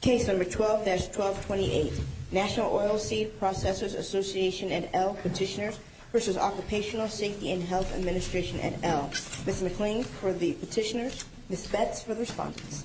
Case number 12-1228, National Oilseed Processors Association et al petitioners v. Occupational Safety and Health Administration et al. Ms. McLean for the petitioners, Ms. Betz for the respondents.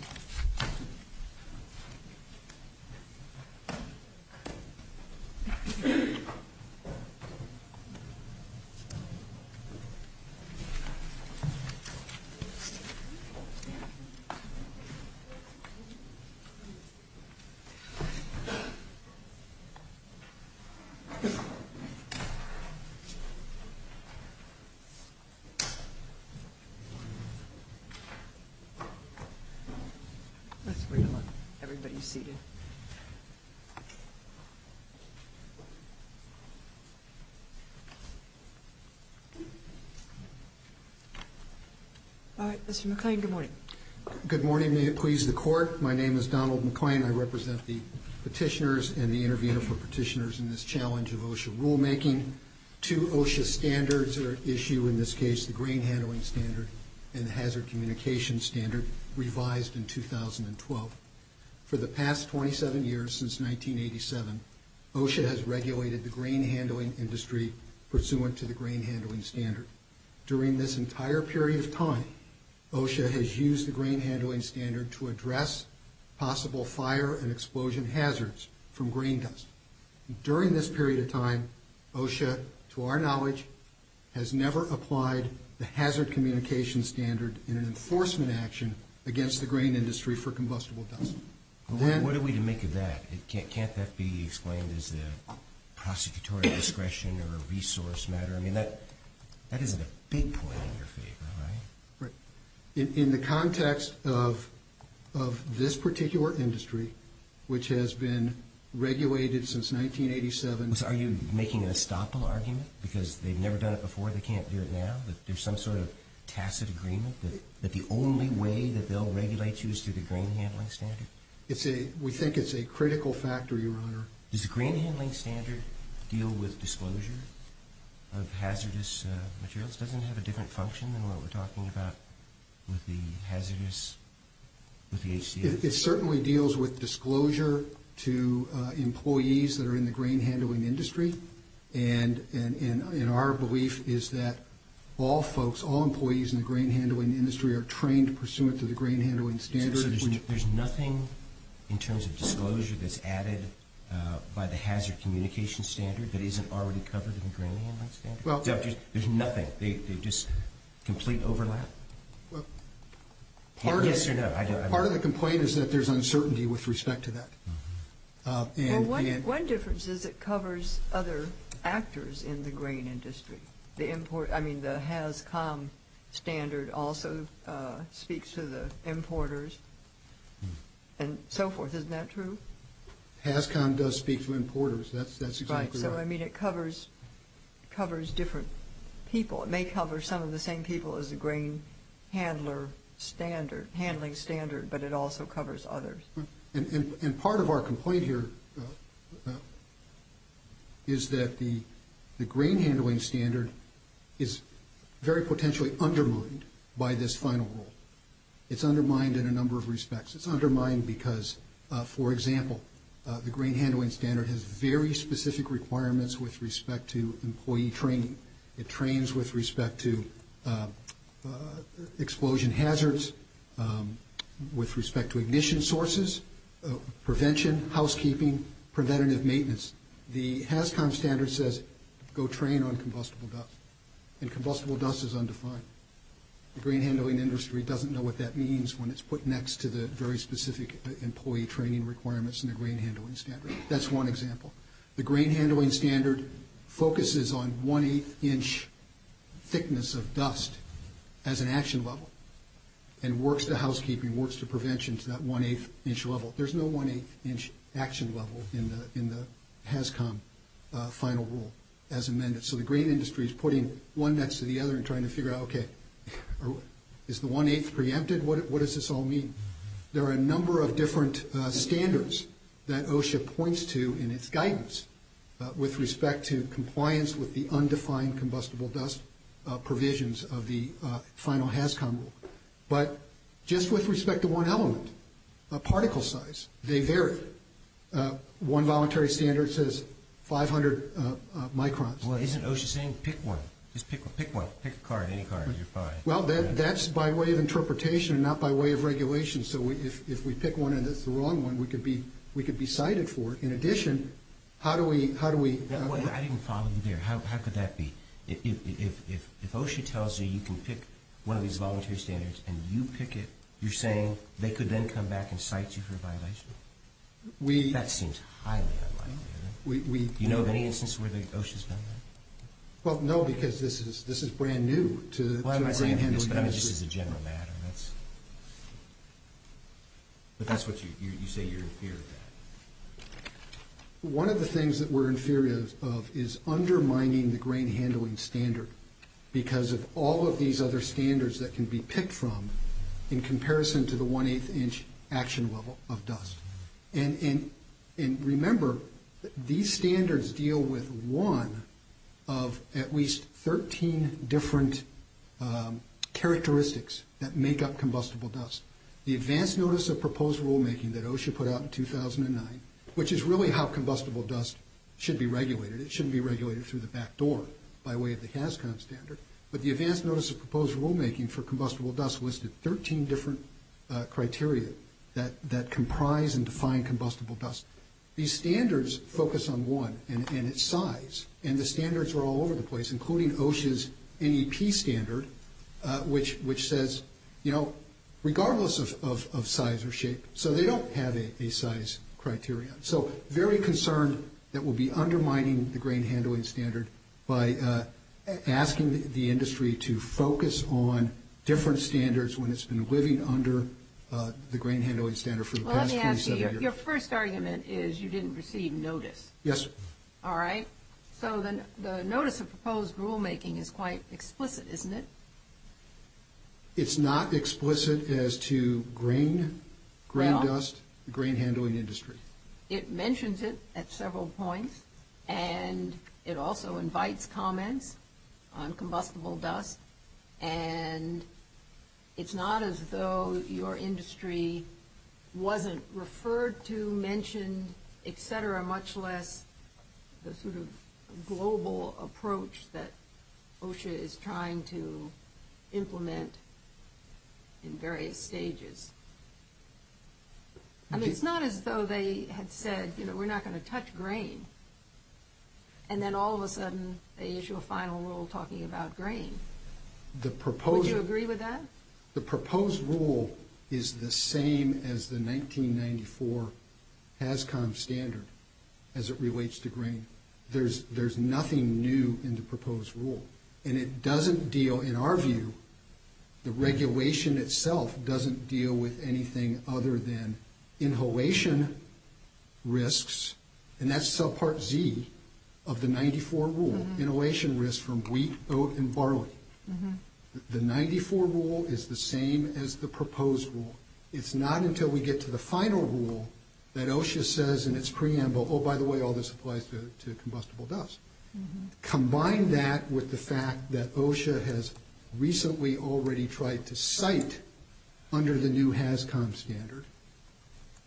All right, Mr. McLean, good morning. Good morning. May it please the Court. My name is Donald McLean. I represent the petitioners and the intervener for petitioners in this challenge of OSHA rulemaking. Two OSHA standards are at issue in this case, the Grain Handling Standard and the Hazard Communication Standard, revised in 2012. For the past 27 years, since 1987, OSHA has regulated the grain handling industry pursuant to the Grain Handling Standard. During this entire period of time, OSHA has used the Grain Handling Standard to address possible fire and explosion hazards from grain dust. During this period of time, OSHA, to our knowledge, has never applied the Hazard Communication Standard in an enforcement action against the grain industry for combustible dust. What are we to make of that? Can't that be explained as a prosecutorial discretion or a resource matter? I mean, that isn't a big point in your favor, right? Right. In the context of this particular industry, which has been regulated since 1987. Are you making an estoppel argument because they've never done it before, they can't do it now, that there's some sort of tacit agreement that the only way that they'll regulate you is through the Grain Handling Standard? We think it's a critical factor, Your Honor. Does the Grain Handling Standard deal with disclosure of hazardous materials? Does it have a different function than what we're talking about with the hazardous, with the HCA? It certainly deals with disclosure to employees that are in the grain handling industry, and our belief is that all folks, all employees in the grain handling industry are trained pursuant to the Grain Handling Standard. There's nothing in terms of disclosure that's added by the hazard communication standard that isn't already covered in the Grain Handling Standard? There's nothing? Just complete overlap? Yes or no? Part of the complaint is that there's uncertainty with respect to that. One difference is it covers other actors in the grain industry. I mean, the HAZCOM standard also speaks to the importers and so forth. Isn't that true? HAZCOM does speak to importers. That's exactly right. Right. So, I mean, it covers different people. It may cover some of the same people as the Grain Handler Standard, Handling Standard, but it also covers others. And part of our complaint here is that the Grain Handling Standard is very potentially undermined by this final rule. It's undermined in a number of respects. It's undermined because, for example, the Grain Handling Standard has very specific requirements with respect to employee training. It trains with respect to explosion hazards, with respect to ignition sources, prevention, housekeeping, preventative maintenance. The HAZCOM standard says go train on combustible dust, and combustible dust is undefined. The grain handling industry doesn't know what that means when it's put next to the very specific employee training requirements in the Grain Handling Standard. That's one example. The Grain Handling Standard focuses on one-eighth inch thickness of dust as an action level and works to housekeeping, works to prevention to that one-eighth inch level. There's no one-eighth inch action level in the HAZCOM final rule as amended. So the grain industry is putting one next to the other and trying to figure out, okay, is the one-eighth preempted? What does this all mean? There are a number of different standards that OSHA points to in its guidance with respect to compliance with the undefined combustible dust provisions of the final HAZCOM rule. But just with respect to one element, particle size, they vary. One voluntary standard says 500 microns. Well, isn't OSHA saying pick one? Just pick one. Pick one. Pick a card, any card. You're fine. Well, that's by way of interpretation and not by way of regulation. So if we pick one and it's the wrong one, we could be cited for it. In addition, how do we – I didn't follow you there. How could that be? If OSHA tells you you can pick one of these voluntary standards and you pick it, you're saying they could then come back and cite you for a violation? That seems highly unlikely. Do you know of any instance where OSHA has done that? Well, no, because this is brand new to – Why am I saying this? This is a general matter. But that's what you say you're in fear of. One of the things that we're in fear of is undermining the grain handling standard because of all of these other standards that can be picked from in comparison to the one-eighth inch action level of dust. And remember, these standards deal with one of at least 13 different characteristics that make up combustible dust. The advance notice of proposed rulemaking that OSHA put out in 2009, which is really how combustible dust should be regulated. It shouldn't be regulated through the back door by way of the CASCON standard. But the advance notice of proposed rulemaking for combustible dust listed 13 different criteria that comprise and define combustible dust. These standards focus on one, and it's size. And the standards are all over the place, including OSHA's NEP standard, which says, you know, regardless of size or shape. So they don't have a size criteria. So very concerned that we'll be undermining the grain handling standard by asking the industry to focus on different standards when it's been living under the grain handling standard for the past 27 years. Well, let me ask you, your first argument is you didn't receive notice. Yes. All right. So the notice of proposed rulemaking is quite explicit, isn't it? It's not explicit as to grain, grain dust, grain handling industry. It mentions it at several points, and it also invites comments on combustible dust. And it's not as though your industry wasn't referred to, mentioned, et cetera, much less the sort of global approach that OSHA is trying to implement in various stages. I mean, it's not as though they had said, you know, we're not going to touch grain, and then all of a sudden they issue a final rule talking about grain. Would you agree with that? The proposed rule is the same as the 1994 HAZCOM standard as it relates to grain. There's nothing new in the proposed rule, and it doesn't deal, in our view, the regulation itself doesn't deal with anything other than inhalation risks, and that's subpart Z of the 94 rule, inhalation risks from wheat, oat, and barley. The 94 rule is the same as the proposed rule. It's not until we get to the final rule that OSHA says in its preamble, oh, by the way, all this applies to combustible dust. Combine that with the fact that OSHA has recently already tried to cite, under the new HAZCOM standard,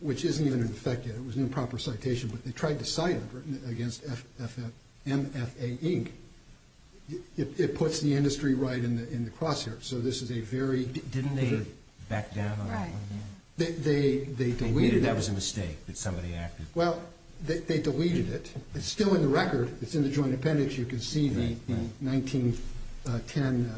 which isn't even in effect yet. It was an improper citation, but they tried to cite it against MFA Inc. It puts the industry right in the crosshairs. So this is a very— Didn't they back down on that? They deleted it. They knew that was a mistake that somebody acted. Well, they deleted it. It's still in the record. It's in the joint appendix. You can see the 1910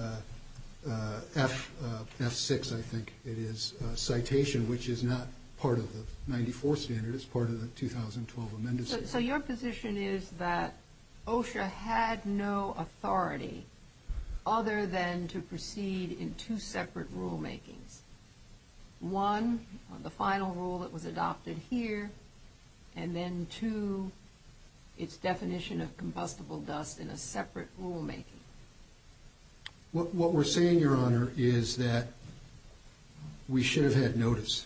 F6, I think it is, citation, which is not part of the 94 standard. It's part of the 2012 amended standard. So your position is that OSHA had no authority other than to proceed in two separate rulemakings, one, the final rule that was adopted here, and then two, its definition of combustible dust in a separate rulemaking. What we're saying, Your Honor, is that we should have had notice.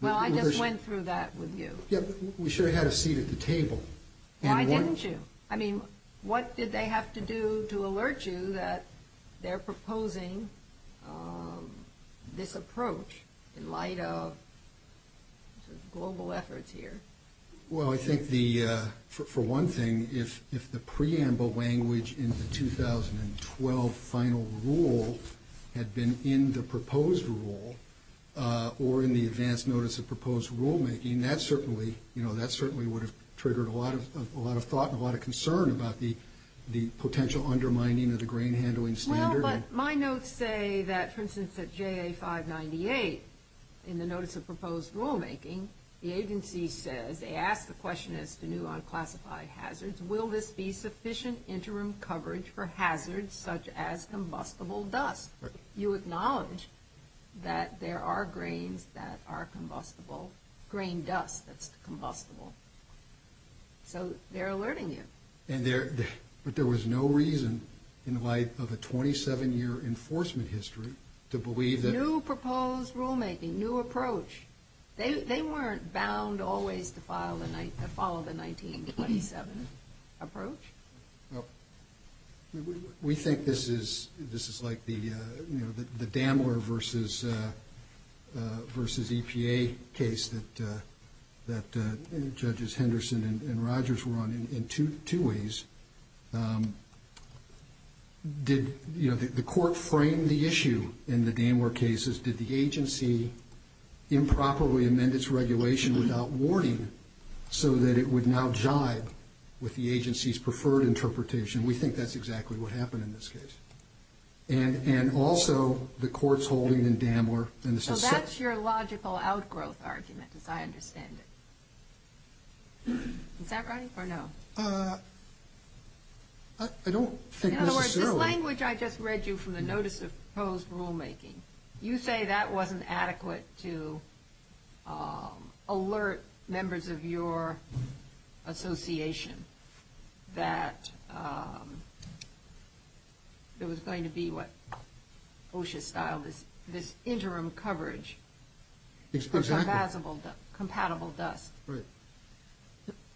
Well, I just went through that with you. We should have had a seat at the table. Why didn't you? I mean, what did they have to do to alert you that they're proposing this approach in light of global efforts here? Well, I think for one thing, if the preamble language in the 2012 final rule had been in the proposed rule or in the advance notice of proposed rulemaking, I mean, that certainly would have triggered a lot of thought and a lot of concern about the potential undermining of the grain handling standard. Well, but my notes say that, for instance, at JA 598, in the notice of proposed rulemaking, the agency says, they ask the question as to new unclassified hazards, will this be sufficient interim coverage for hazards such as combustible dust? You acknowledge that there are grains that are combustible, grain dust that's combustible. So they're alerting you. But there was no reason in light of a 27-year enforcement history to believe that... New proposed rulemaking, new approach. They weren't bound always to follow the 1927 approach. We think this is like the Damler versus EPA case that Judges Henderson and Rogers were on in two ways. Did the court frame the issue in the Damler cases? Did the agency improperly amend its regulation without warning so that it would now jibe with the agency's preferred interpretation? We think that's exactly what happened in this case. And also, the court's holding in Damler... So that's your logical outgrowth argument, as I understand it. Is that right or no? I don't think necessarily... In other words, this language I just read you from the notice of proposed rulemaking, you say that wasn't adequate to alert members of your association that there was going to be what OSHA styled as this interim coverage of compatible dust. Right.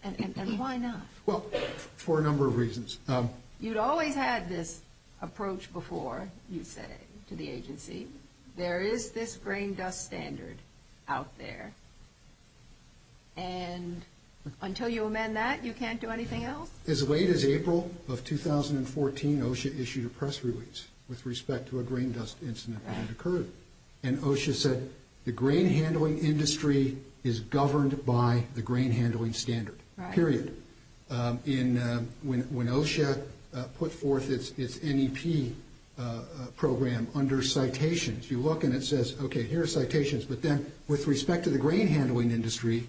And why not? Well, for a number of reasons. You'd always had this approach before, you say, to the agency. There is this grain dust standard out there. And until you amend that, you can't do anything else? As late as April of 2014, OSHA issued a press release with respect to a grain dust incident that had occurred. And OSHA said the grain handling industry is governed by the grain handling standard, period. When OSHA put forth its NEP program under citations, you look and it says, okay, here are citations. But then with respect to the grain handling industry,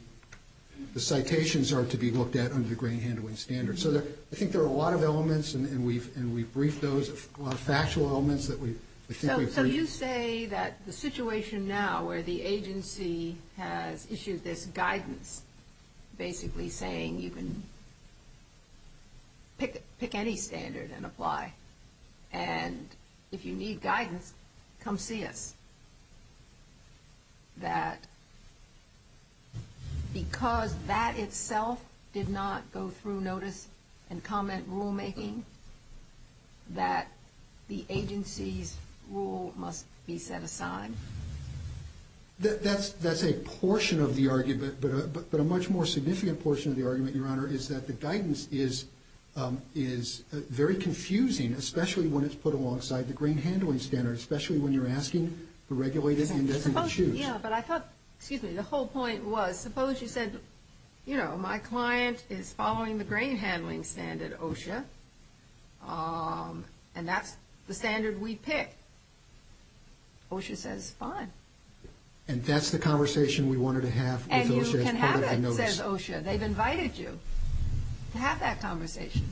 the citations are to be looked at under the grain handling standard. So I think there are a lot of elements, and we've briefed those factual elements that we think we've briefed. So you say that the situation now where the agency has issued this guidance basically saying you can pick any standard and apply, and if you need guidance, come see us, that because that itself did not go through notice and comment rulemaking, that the agency's rule must be set aside? That's a portion of the argument, but a much more significant portion of the argument, Your Honor, is that the guidance is very confusing, especially when it's put alongside the grain handling standard, especially when you're asking the regulated industry to choose. Yeah, but I thought, excuse me, the whole point was suppose you said, you know, my client is following the grain handling standard, OSHA, and that's the standard we pick. OSHA says fine. And that's the conversation we wanted to have with OSHA as part of the notice. And you can have it, says OSHA. They've invited you to have that conversation.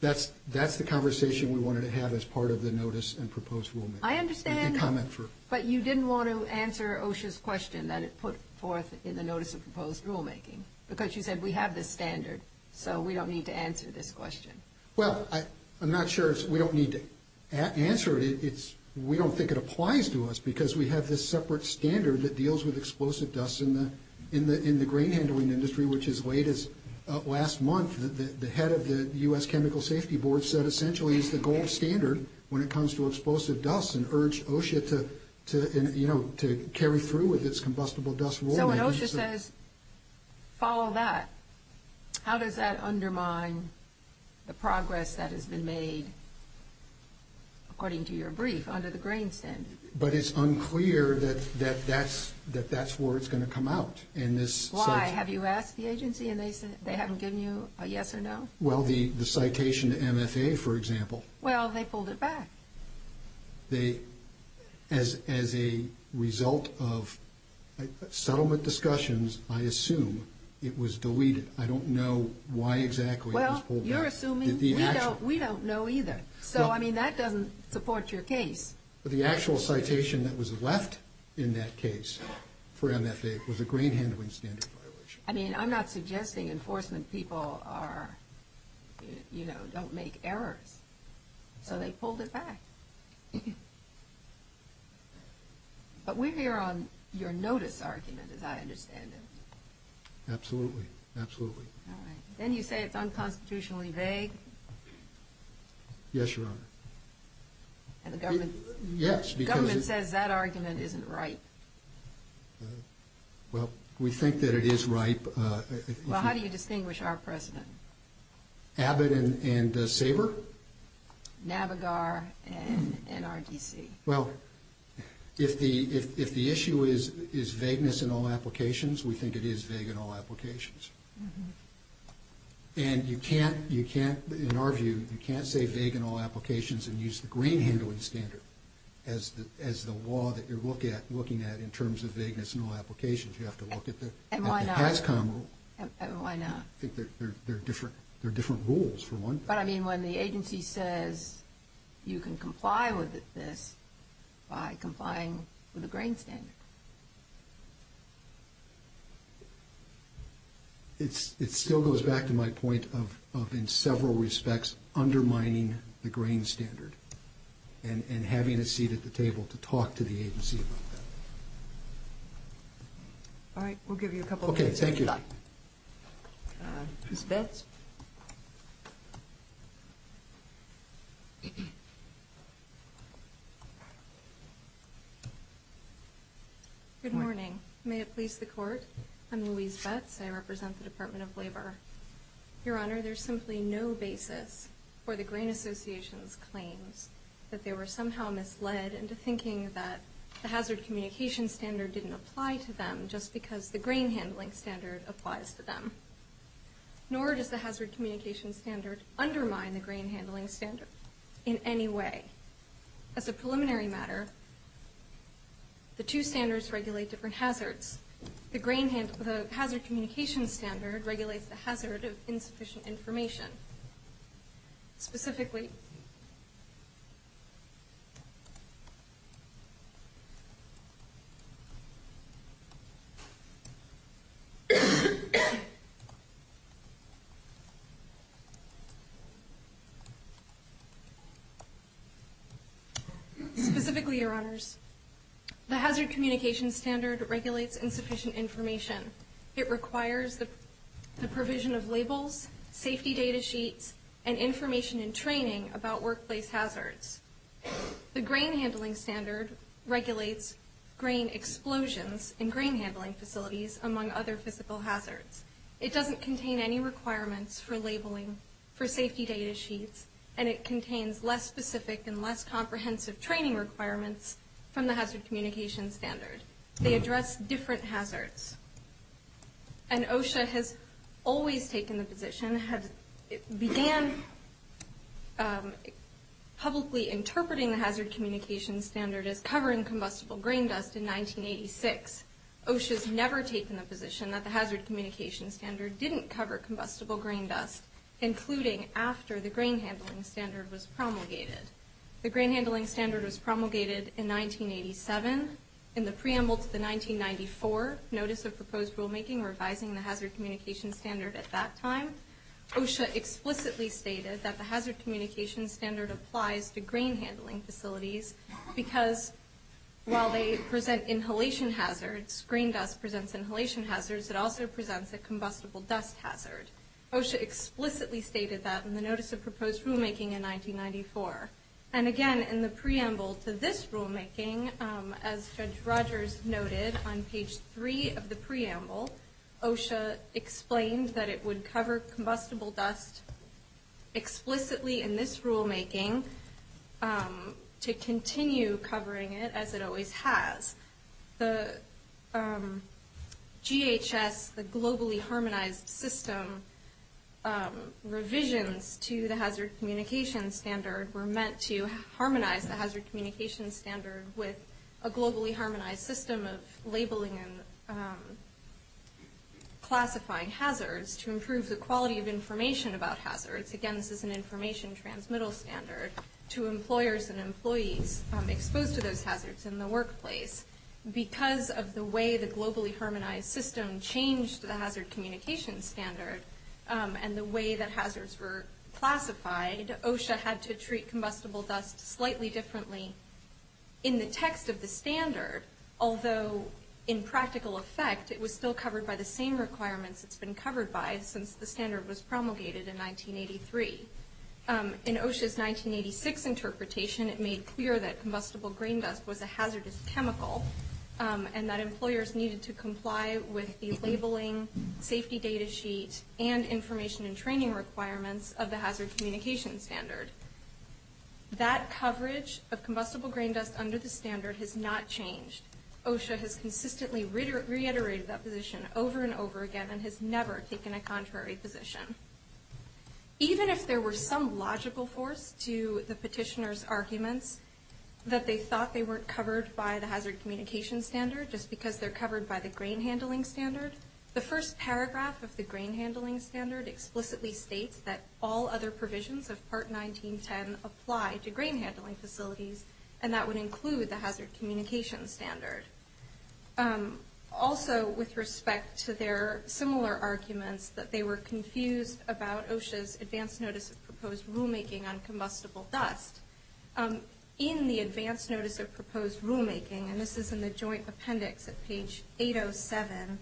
That's the conversation we wanted to have as part of the notice and proposed rulemaking. I understand, but you didn't want to answer OSHA's question that it put forth in the notice of proposed rulemaking, because you said we have this standard, so we don't need to answer this question. Well, I'm not sure we don't need to answer it. We don't think it applies to us because we have this separate standard that deals with explosive dust in the grain handling industry, which as late as last month the head of the U.S. Chemical Safety Board said essentially is the gold standard when it comes to explosive dust and urged OSHA to, you know, to carry through with its combustible dust rulemaking. So when OSHA says follow that, how does that undermine the progress that has been made, according to your brief, under the grain standard? But it's unclear that that's where it's going to come out. Why? Have you asked the agency and they haven't given you a yes or no? Well, the citation to MFA, for example. Well, they pulled it back. As a result of settlement discussions, I assume it was deleted. I don't know why exactly it was pulled back. Well, you're assuming. We don't know either. So, I mean, that doesn't support your case. The actual citation that was left in that case for MFA was a grain handling standard violation. I mean, I'm not suggesting enforcement people are, you know, don't make errors. So they pulled it back. But we're here on your notice argument, as I understand it. Absolutely. Absolutely. All right. Then you say it's unconstitutionally vague. Yes, Your Honor. And the government says that argument isn't right. Well, we think that it is right. Well, how do you distinguish our precedent? Abbott and Sabre? Navigar and NRDC. Well, if the issue is vagueness in all applications, we think it is vague in all applications. And you can't, in our view, you can't say vague in all applications and use the grain handling standard as the law that you're looking at in terms of vagueness in all applications. You have to look at the PASCOM rule. Why not? I think they're different rules, for one thing. But, I mean, when the agency says you can comply with this by complying with a grain standard. It still goes back to my point of, in several respects, undermining the grain standard and having a seat at the table to talk to the agency about that. All right. We'll give you a couple of minutes. Okay. Thank you. Ms. Betz? Good morning. May it please the Court, I'm Louise Betz. I represent the Department of Labor. Your Honor, there's simply no basis for the Grain Association's claims that they were somehow misled into thinking that the hazard communication standard didn't apply to them just because the grain handling standard applies to them. Nor does the hazard communication standard undermine the grain handling standard in any way. As a preliminary matter, the two standards regulate different hazards. The hazard communication standard regulates the hazard of insufficient information. Specifically. Specifically, Your Honors, the hazard communication standard regulates insufficient information. It requires the provision of labels, safety data sheets, and information and training about workplace hazards. The grain handling standard regulates grain explosions in grain handling facilities, among other physical hazards. It doesn't contain any requirements for labeling for safety data sheets, and it contains less specific and less comprehensive training requirements from the hazard communication standard. They address different hazards. And OSHA has always taken the position, began publicly interpreting the hazard communication standard as covering combustible grain dust in 1986. OSHA's never taken the position that the hazard communication standard didn't cover combustible grain dust, including after the grain handling standard was promulgated. The grain handling standard was promulgated in 1987. In the preamble to the 1994 Notice of Proposed Rulemaking, revising the hazard communication standard at that time, OSHA explicitly stated that the hazard communication standard applies to grain handling facilities because while they present inhalation hazards, grain dust presents inhalation hazards, it also presents a combustible dust hazard. OSHA explicitly stated that in the Notice of Proposed Rulemaking in 1994. And again, in the preamble to this rulemaking, as Judge Rogers noted on page 3 of the preamble, OSHA explained that it would cover combustible dust explicitly in this rulemaking to continue covering it as it always has. The GHS, the Globally Harmonized System, revisions to the hazard communication standard were meant to harmonize the hazard communication standard with a globally harmonized system of labeling and classifying hazards to improve the quality of information about hazards. Again, this is an information transmittal standard to employers and employees exposed to those hazards in the workplace. Because of the way the Globally Harmonized System changed the hazard communication standard and the way that hazards were classified, OSHA had to treat combustible dust slightly differently in the text of the standard, although in practical effect, it was still covered by the same requirements it's been covered by since the standard was promulgated in 1983. In OSHA's 1986 interpretation, it made clear that combustible grain dust was a hazardous chemical and that employers needed to comply with the labeling, safety data sheet, and information and training requirements of the hazard communication standard. That coverage of combustible grain dust under the standard has not changed. OSHA has consistently reiterated that position over and over again and has never taken a contrary position. Even if there were some logical force to the petitioner's arguments that they thought they weren't covered by the hazard communication standard just because they're covered by the grain handling standard, the first paragraph of the grain handling standard explicitly states that all other provisions of Part 1910 apply to grain handling facilities and that would include the hazard communication standard. Also, with respect to their similar arguments that they were confused about OSHA's advance notice of proposed rulemaking on combustible dust, in the advance notice of proposed rulemaking, and this is in the joint appendix at page 807,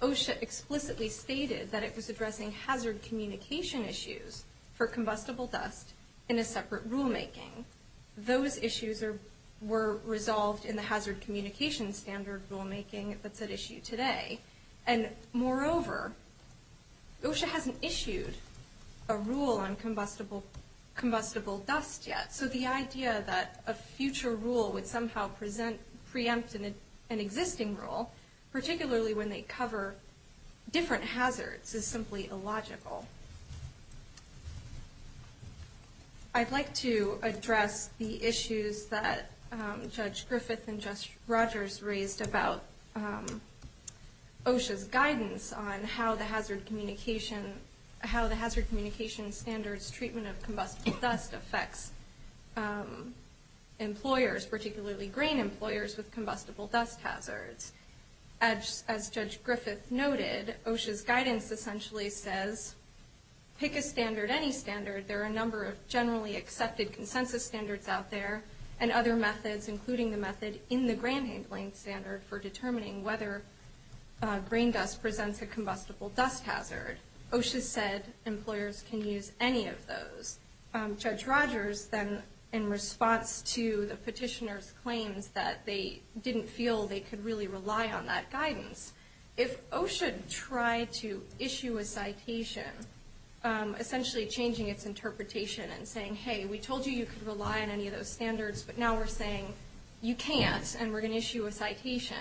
OSHA explicitly stated that it was addressing hazard communication issues for combustible dust in a separate rulemaking. Those issues were resolved in the hazard communication standard rulemaking that's at issue today. And moreover, OSHA hasn't issued a rule on combustible dust yet, so the idea that a future rule would somehow preempt an existing rule, particularly when they cover different hazards, is simply illogical. I'd like to address the issues that Judge Griffith and Judge Rogers raised about OSHA's guidance on how the hazard communication standard's treatment of combustible dust affects employers, particularly grain employers, with combustible dust hazards. As Judge Griffith noted, OSHA's guidance essentially says pick a standard, any standard. There are a number of generally accepted consensus standards out there and other methods, including the method in the grain handling standard for determining whether grain dust presents a combustible dust hazard. OSHA said employers can use any of those. Judge Rogers then, in response to the petitioner's claims that they didn't feel they could really rely on that guidance, if OSHA tried to issue a citation essentially changing its interpretation and saying, hey, we told you you could rely on any of those standards, but now we're saying you can't and we're going to issue a citation,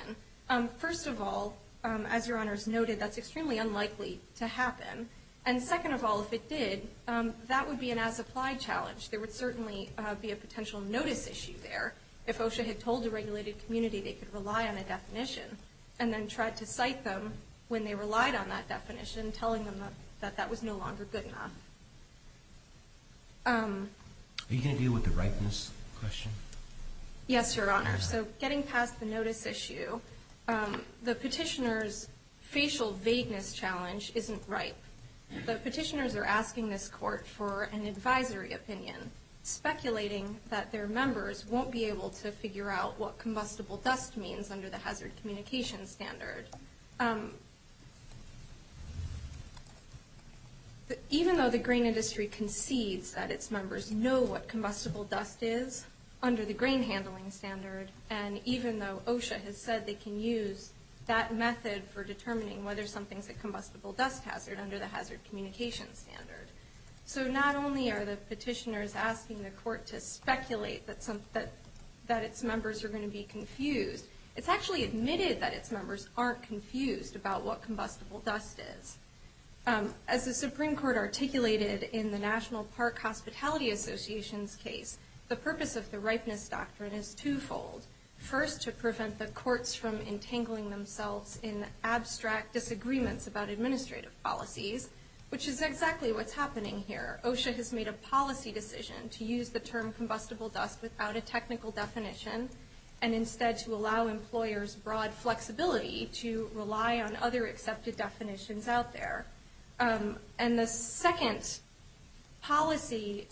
first of all, as Your Honors noted, that's extremely unlikely to happen. And second of all, if it did, that would be an as-applied challenge. There would certainly be a potential notice issue there if OSHA had told the regulated community they could rely on a definition and then tried to cite them when they relied on that definition, telling them that that was no longer good enough. Are you going to deal with the ripeness question? Yes, Your Honor. So getting past the notice issue, the petitioner's facial vagueness challenge isn't ripe. The petitioners are asking this court for an advisory opinion, speculating that their members won't be able to figure out what combustible dust means under the hazard communication standard. Even though the grain industry concedes that its members know what combustible dust is under the grain handling standard, and even though OSHA has said they can use that method for determining whether something's a combustible dust hazard under the hazard communication standard. So not only are the petitioners asking the court to speculate that its members are going to be confused, it's actually admitted that its members aren't confused about what combustible dust is. As the Supreme Court articulated in the National Park Hospitality Association's case, the purpose of the ripeness doctrine is twofold. First, to prevent the courts from entangling themselves in abstract disagreements about administrative policies, which is exactly what's happening here. OSHA has made a policy decision to use the term combustible dust without a technical definition, and instead to allow employers broad flexibility to rely on other accepted definitions out there. And the second policy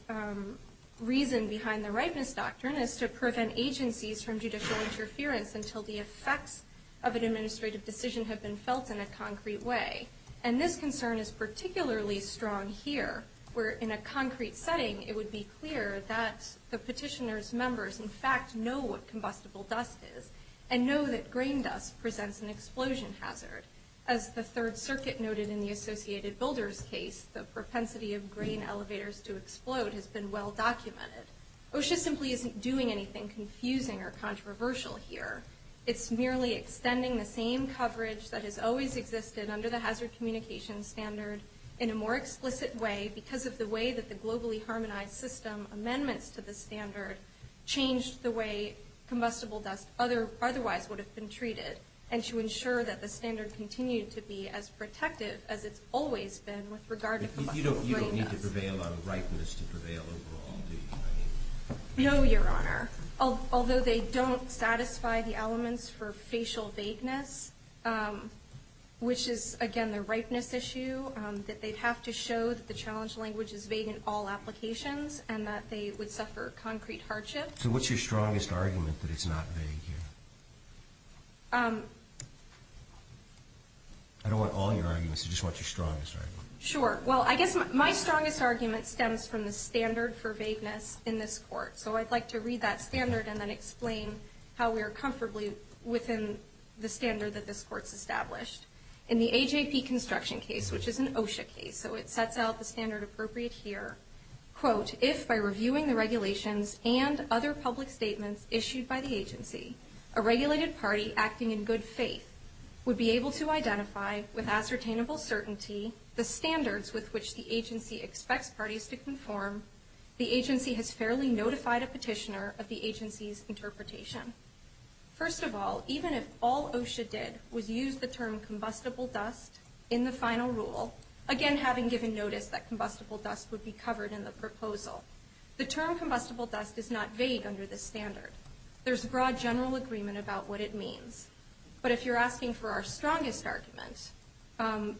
reason behind the ripeness doctrine is to prevent agencies from judicial interference until the effects of an administrative decision have been felt in a concrete way. And this concern is particularly strong here, where in a concrete setting, it would be clear that the petitioner's members in fact know what combustible dust is and know that grain dust presents an explosion hazard. As the Third Circuit noted in the Associated Builders case, the propensity of grain elevators to explode has been well documented. OSHA simply isn't doing anything confusing or controversial here. It's merely extending the same coverage that has always existed under the hazard communication standard in a more explicit way because of the way that the Globally Harmonized System amendments to the standard changed the way combustible dust otherwise would have been treated, and to ensure that the standard continued to be as protective as it's always been with regard to combustible grain dust. You don't need to prevail on ripeness to prevail overall, do you? No, Your Honor. Although they don't satisfy the elements for facial vagueness, which is, again, the ripeness issue, that they'd have to show that the challenge language is vague in all applications and that they would suffer concrete hardship. So what's your strongest argument that it's not vague here? I don't want all your arguments. I just want your strongest argument. Sure. Well, I guess my strongest argument stems from the standard for vagueness in this court. So I'd like to read that standard and then explain how we're comfortably within the standard that this court's established. In the AJP construction case, which is an OSHA case, so it sets out the standard appropriate here, quote, if by reviewing the regulations and other public statements issued by the agency, a regulated party acting in good faith would be able to identify with ascertainable certainty the standards with which the agency expects parties to conform, the agency has fairly notified a petitioner of the agency's interpretation. First of all, even if all OSHA did was use the term combustible dust in the final rule, again having given notice that combustible dust would be covered in the proposal, the term combustible dust is not vague under this standard. There's broad general agreement about what it means. But if you're asking for our strongest argument,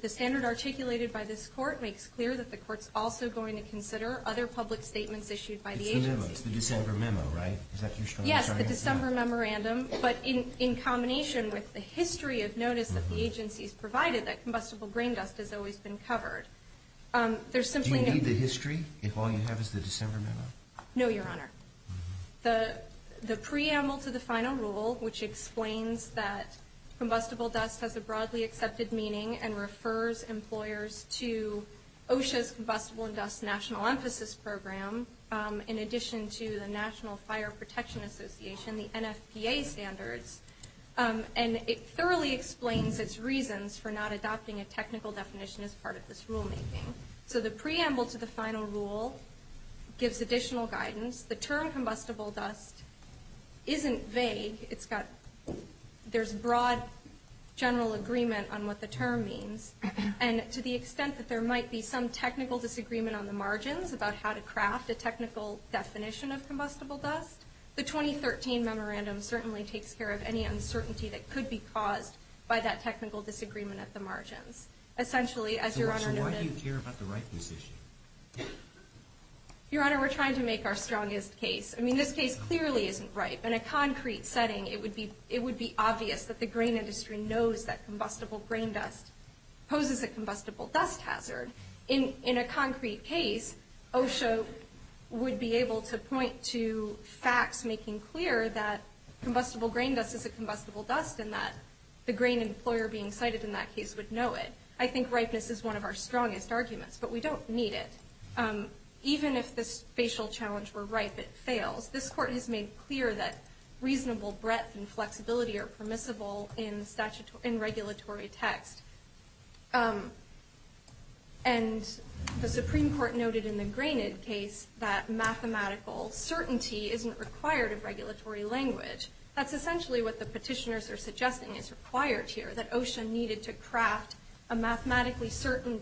the standard articulated by this court makes clear that the court's also going to consider other public statements issued by the agency. It's the memo. It's the December memo, right? Is that your strongest argument? Yes, the December memorandum. But in combination with the history of notice that the agency's provided that combustible grain dust has always been covered, there's simply no need. Do you need the history if all you have is the December memo? No, Your Honor. The preamble to the final rule, which explains that combustible dust has a broadly accepted meaning and refers employers to OSHA's combustible and dust national emphasis program in addition to the National Fire Protection Association, the NFPA standards, and it thoroughly explains its reasons for not adopting a technical definition as part of this rulemaking. So the preamble to the final rule gives additional guidance. The term combustible dust isn't vague. It's got – there's broad general agreement on what the term means. And to the extent that there might be some technical disagreement on the margins about how to craft a technical definition of combustible dust, the 2013 memorandum certainly takes care of any uncertainty that could be caused by that technical disagreement at the margins. Essentially, as Your Honor noted – So why do you care about the right position? Your Honor, we're trying to make our strongest case. I mean, this case clearly isn't right. In a concrete setting, it would be obvious that the grain industry knows that combustible grain dust poses a combustible dust hazard. In a concrete case, OSHA would be able to point to facts making clear that combustible grain dust is a combustible dust and that the grain employer being cited in that case would know it. I think ripeness is one of our strongest arguments, but we don't need it. Even if the spatial challenge were ripe, it fails. This Court has made clear that reasonable breadth and flexibility are permissible in statutory – in regulatory text. And the Supreme Court noted in the Grainid case that mathematical certainty isn't required of regulatory language. That's essentially what the petitioners are suggesting is required here, that OSHA needed to craft a mathematically certain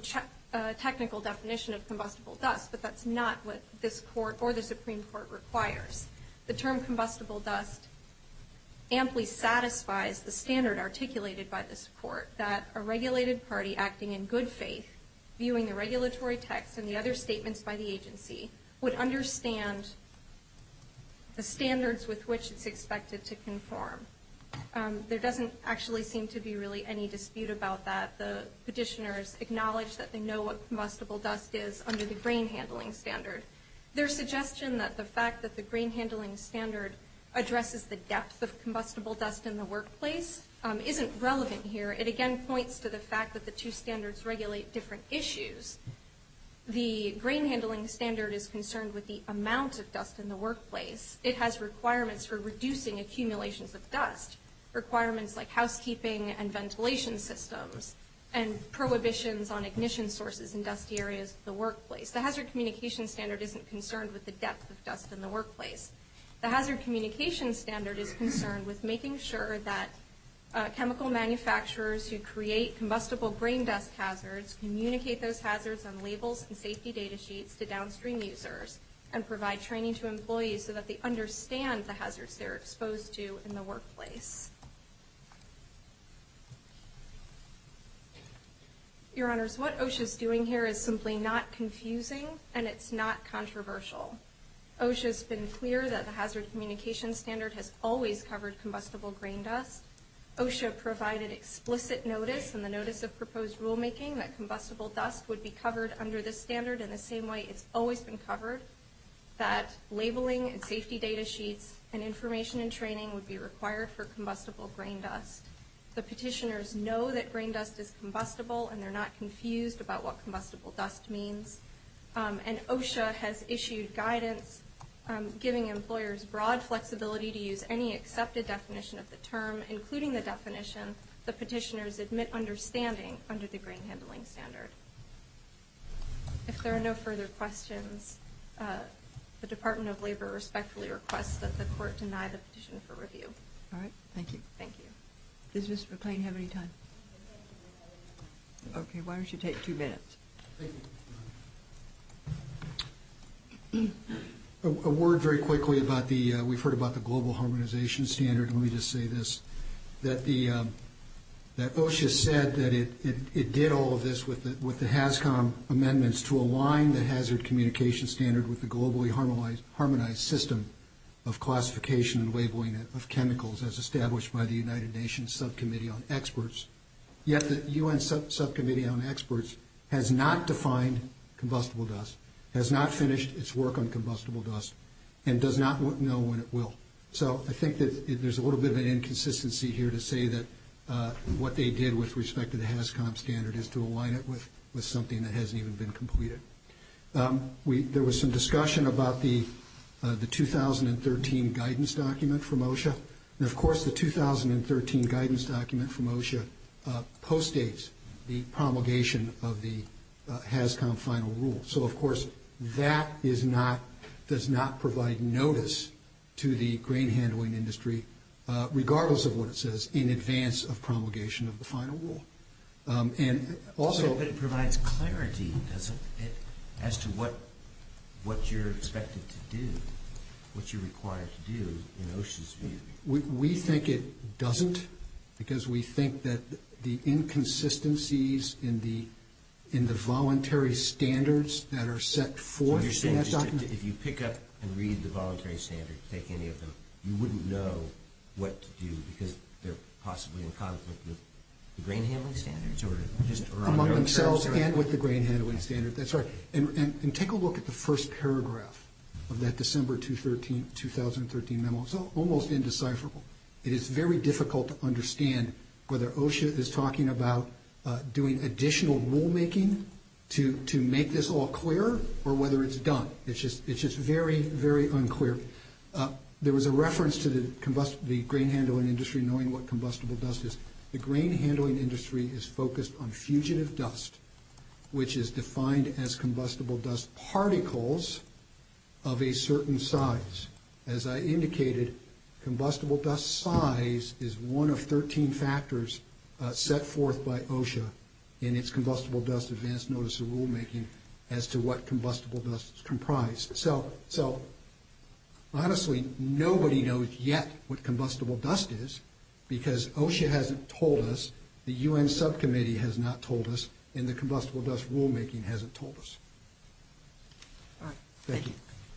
technical definition of combustible dust, but that's not what this Court or the Supreme Court requires. The term combustible dust amply satisfies the standard articulated by this Court, that a regulated party acting in good faith, viewing the regulatory text and the other statements by the agency, would understand the standards with which it's expected to conform. There doesn't actually seem to be really any dispute about that. The petitioners acknowledge that they know what combustible dust is under the grain handling standard. Their suggestion that the fact that the grain handling standard addresses the depth of combustible dust in the workplace isn't relevant here. It again points to the fact that the two standards regulate different issues. The grain handling standard is concerned with the amount of dust in the workplace. It has requirements for reducing accumulations of dust, requirements like housekeeping and ventilation systems, and prohibitions on ignition sources in dusty areas of the workplace. The hazard communication standard isn't concerned with the depth of dust in the workplace. The hazard communication standard is concerned with making sure that chemical manufacturers who create combustible grain dust hazards communicate those hazards on labels and safety data sheets to downstream users and provide training to employees so that they understand the hazards they're exposed to in the workplace. Your Honors, what OSHA's doing here is simply not confusing, and it's not controversial. OSHA's been clear that the hazard communication standard has always covered combustible grain dust. OSHA provided explicit notice in the notice of proposed rulemaking that combustible dust would be covered under this standard in the same way it's always been covered, that labeling and safety data sheets and information and training would be required for combustible grain dust. The petitioners know that grain dust is combustible, and they're not confused about what combustible dust means. And OSHA has issued guidance giving employers broad flexibility to use any accepted definition of the term, including the definition the petitioners admit understanding under the grain handling standard. If there are no further questions, the Department of Labor respectfully requests that the court deny the petition for review. All right. Thank you. Thank you. Does Mr. McLean have any time? Okay. Why don't you take two minutes? Thank you. A word very quickly about the – we've heard about the global harmonization standard, and let me just say this, that OSHA said that it did all of this with the HASCOM amendments to align the hazard communication standard with the globally harmonized system of classification and labeling of chemicals as established by the United Nations Subcommittee on Experts. Yet the U.N. Subcommittee on Experts has not defined combustible dust, has not finished its work on combustible dust, and does not know when it will. So I think that there's a little bit of an inconsistency here to say that what they did with respect to the HASCOM standard is to align it with something that hasn't even been completed. There was some discussion about the 2013 guidance document from OSHA. And, of course, the 2013 guidance document from OSHA postdates the promulgation of the HASCOM final rule. So, of course, that does not provide notice to the grain handling industry, regardless of what it says, in advance of promulgation of the final rule. So it provides clarity, does it, as to what you're expected to do, what you're required to do in OSHA's view? We think it doesn't, because we think that the inconsistencies in the voluntary standards that are set forth in that document So you're saying if you pick up and read the voluntary standards, take any of them, you wouldn't know what to do because they're possibly in conflict with the grain handling standards? Among themselves and with the grain handling standards. That's right. And take a look at the first paragraph of that December 2013 memo. It's almost indecipherable. It is very difficult to understand whether OSHA is talking about doing additional rulemaking to make this all clearer, or whether it's done. It's just very, very unclear. There was a reference to the grain handling industry knowing what combustible dust is. The grain handling industry is focused on fugitive dust, which is defined as combustible dust particles of a certain size. As I indicated, combustible dust size is one of 13 factors set forth by OSHA in its combustible dust advance notice of rulemaking, as to what combustible dust is comprised. So honestly, nobody knows yet what combustible dust is because OSHA hasn't told us, the U.N. subcommittee has not told us, and the combustible dust rulemaking hasn't told us. All right. Thank you.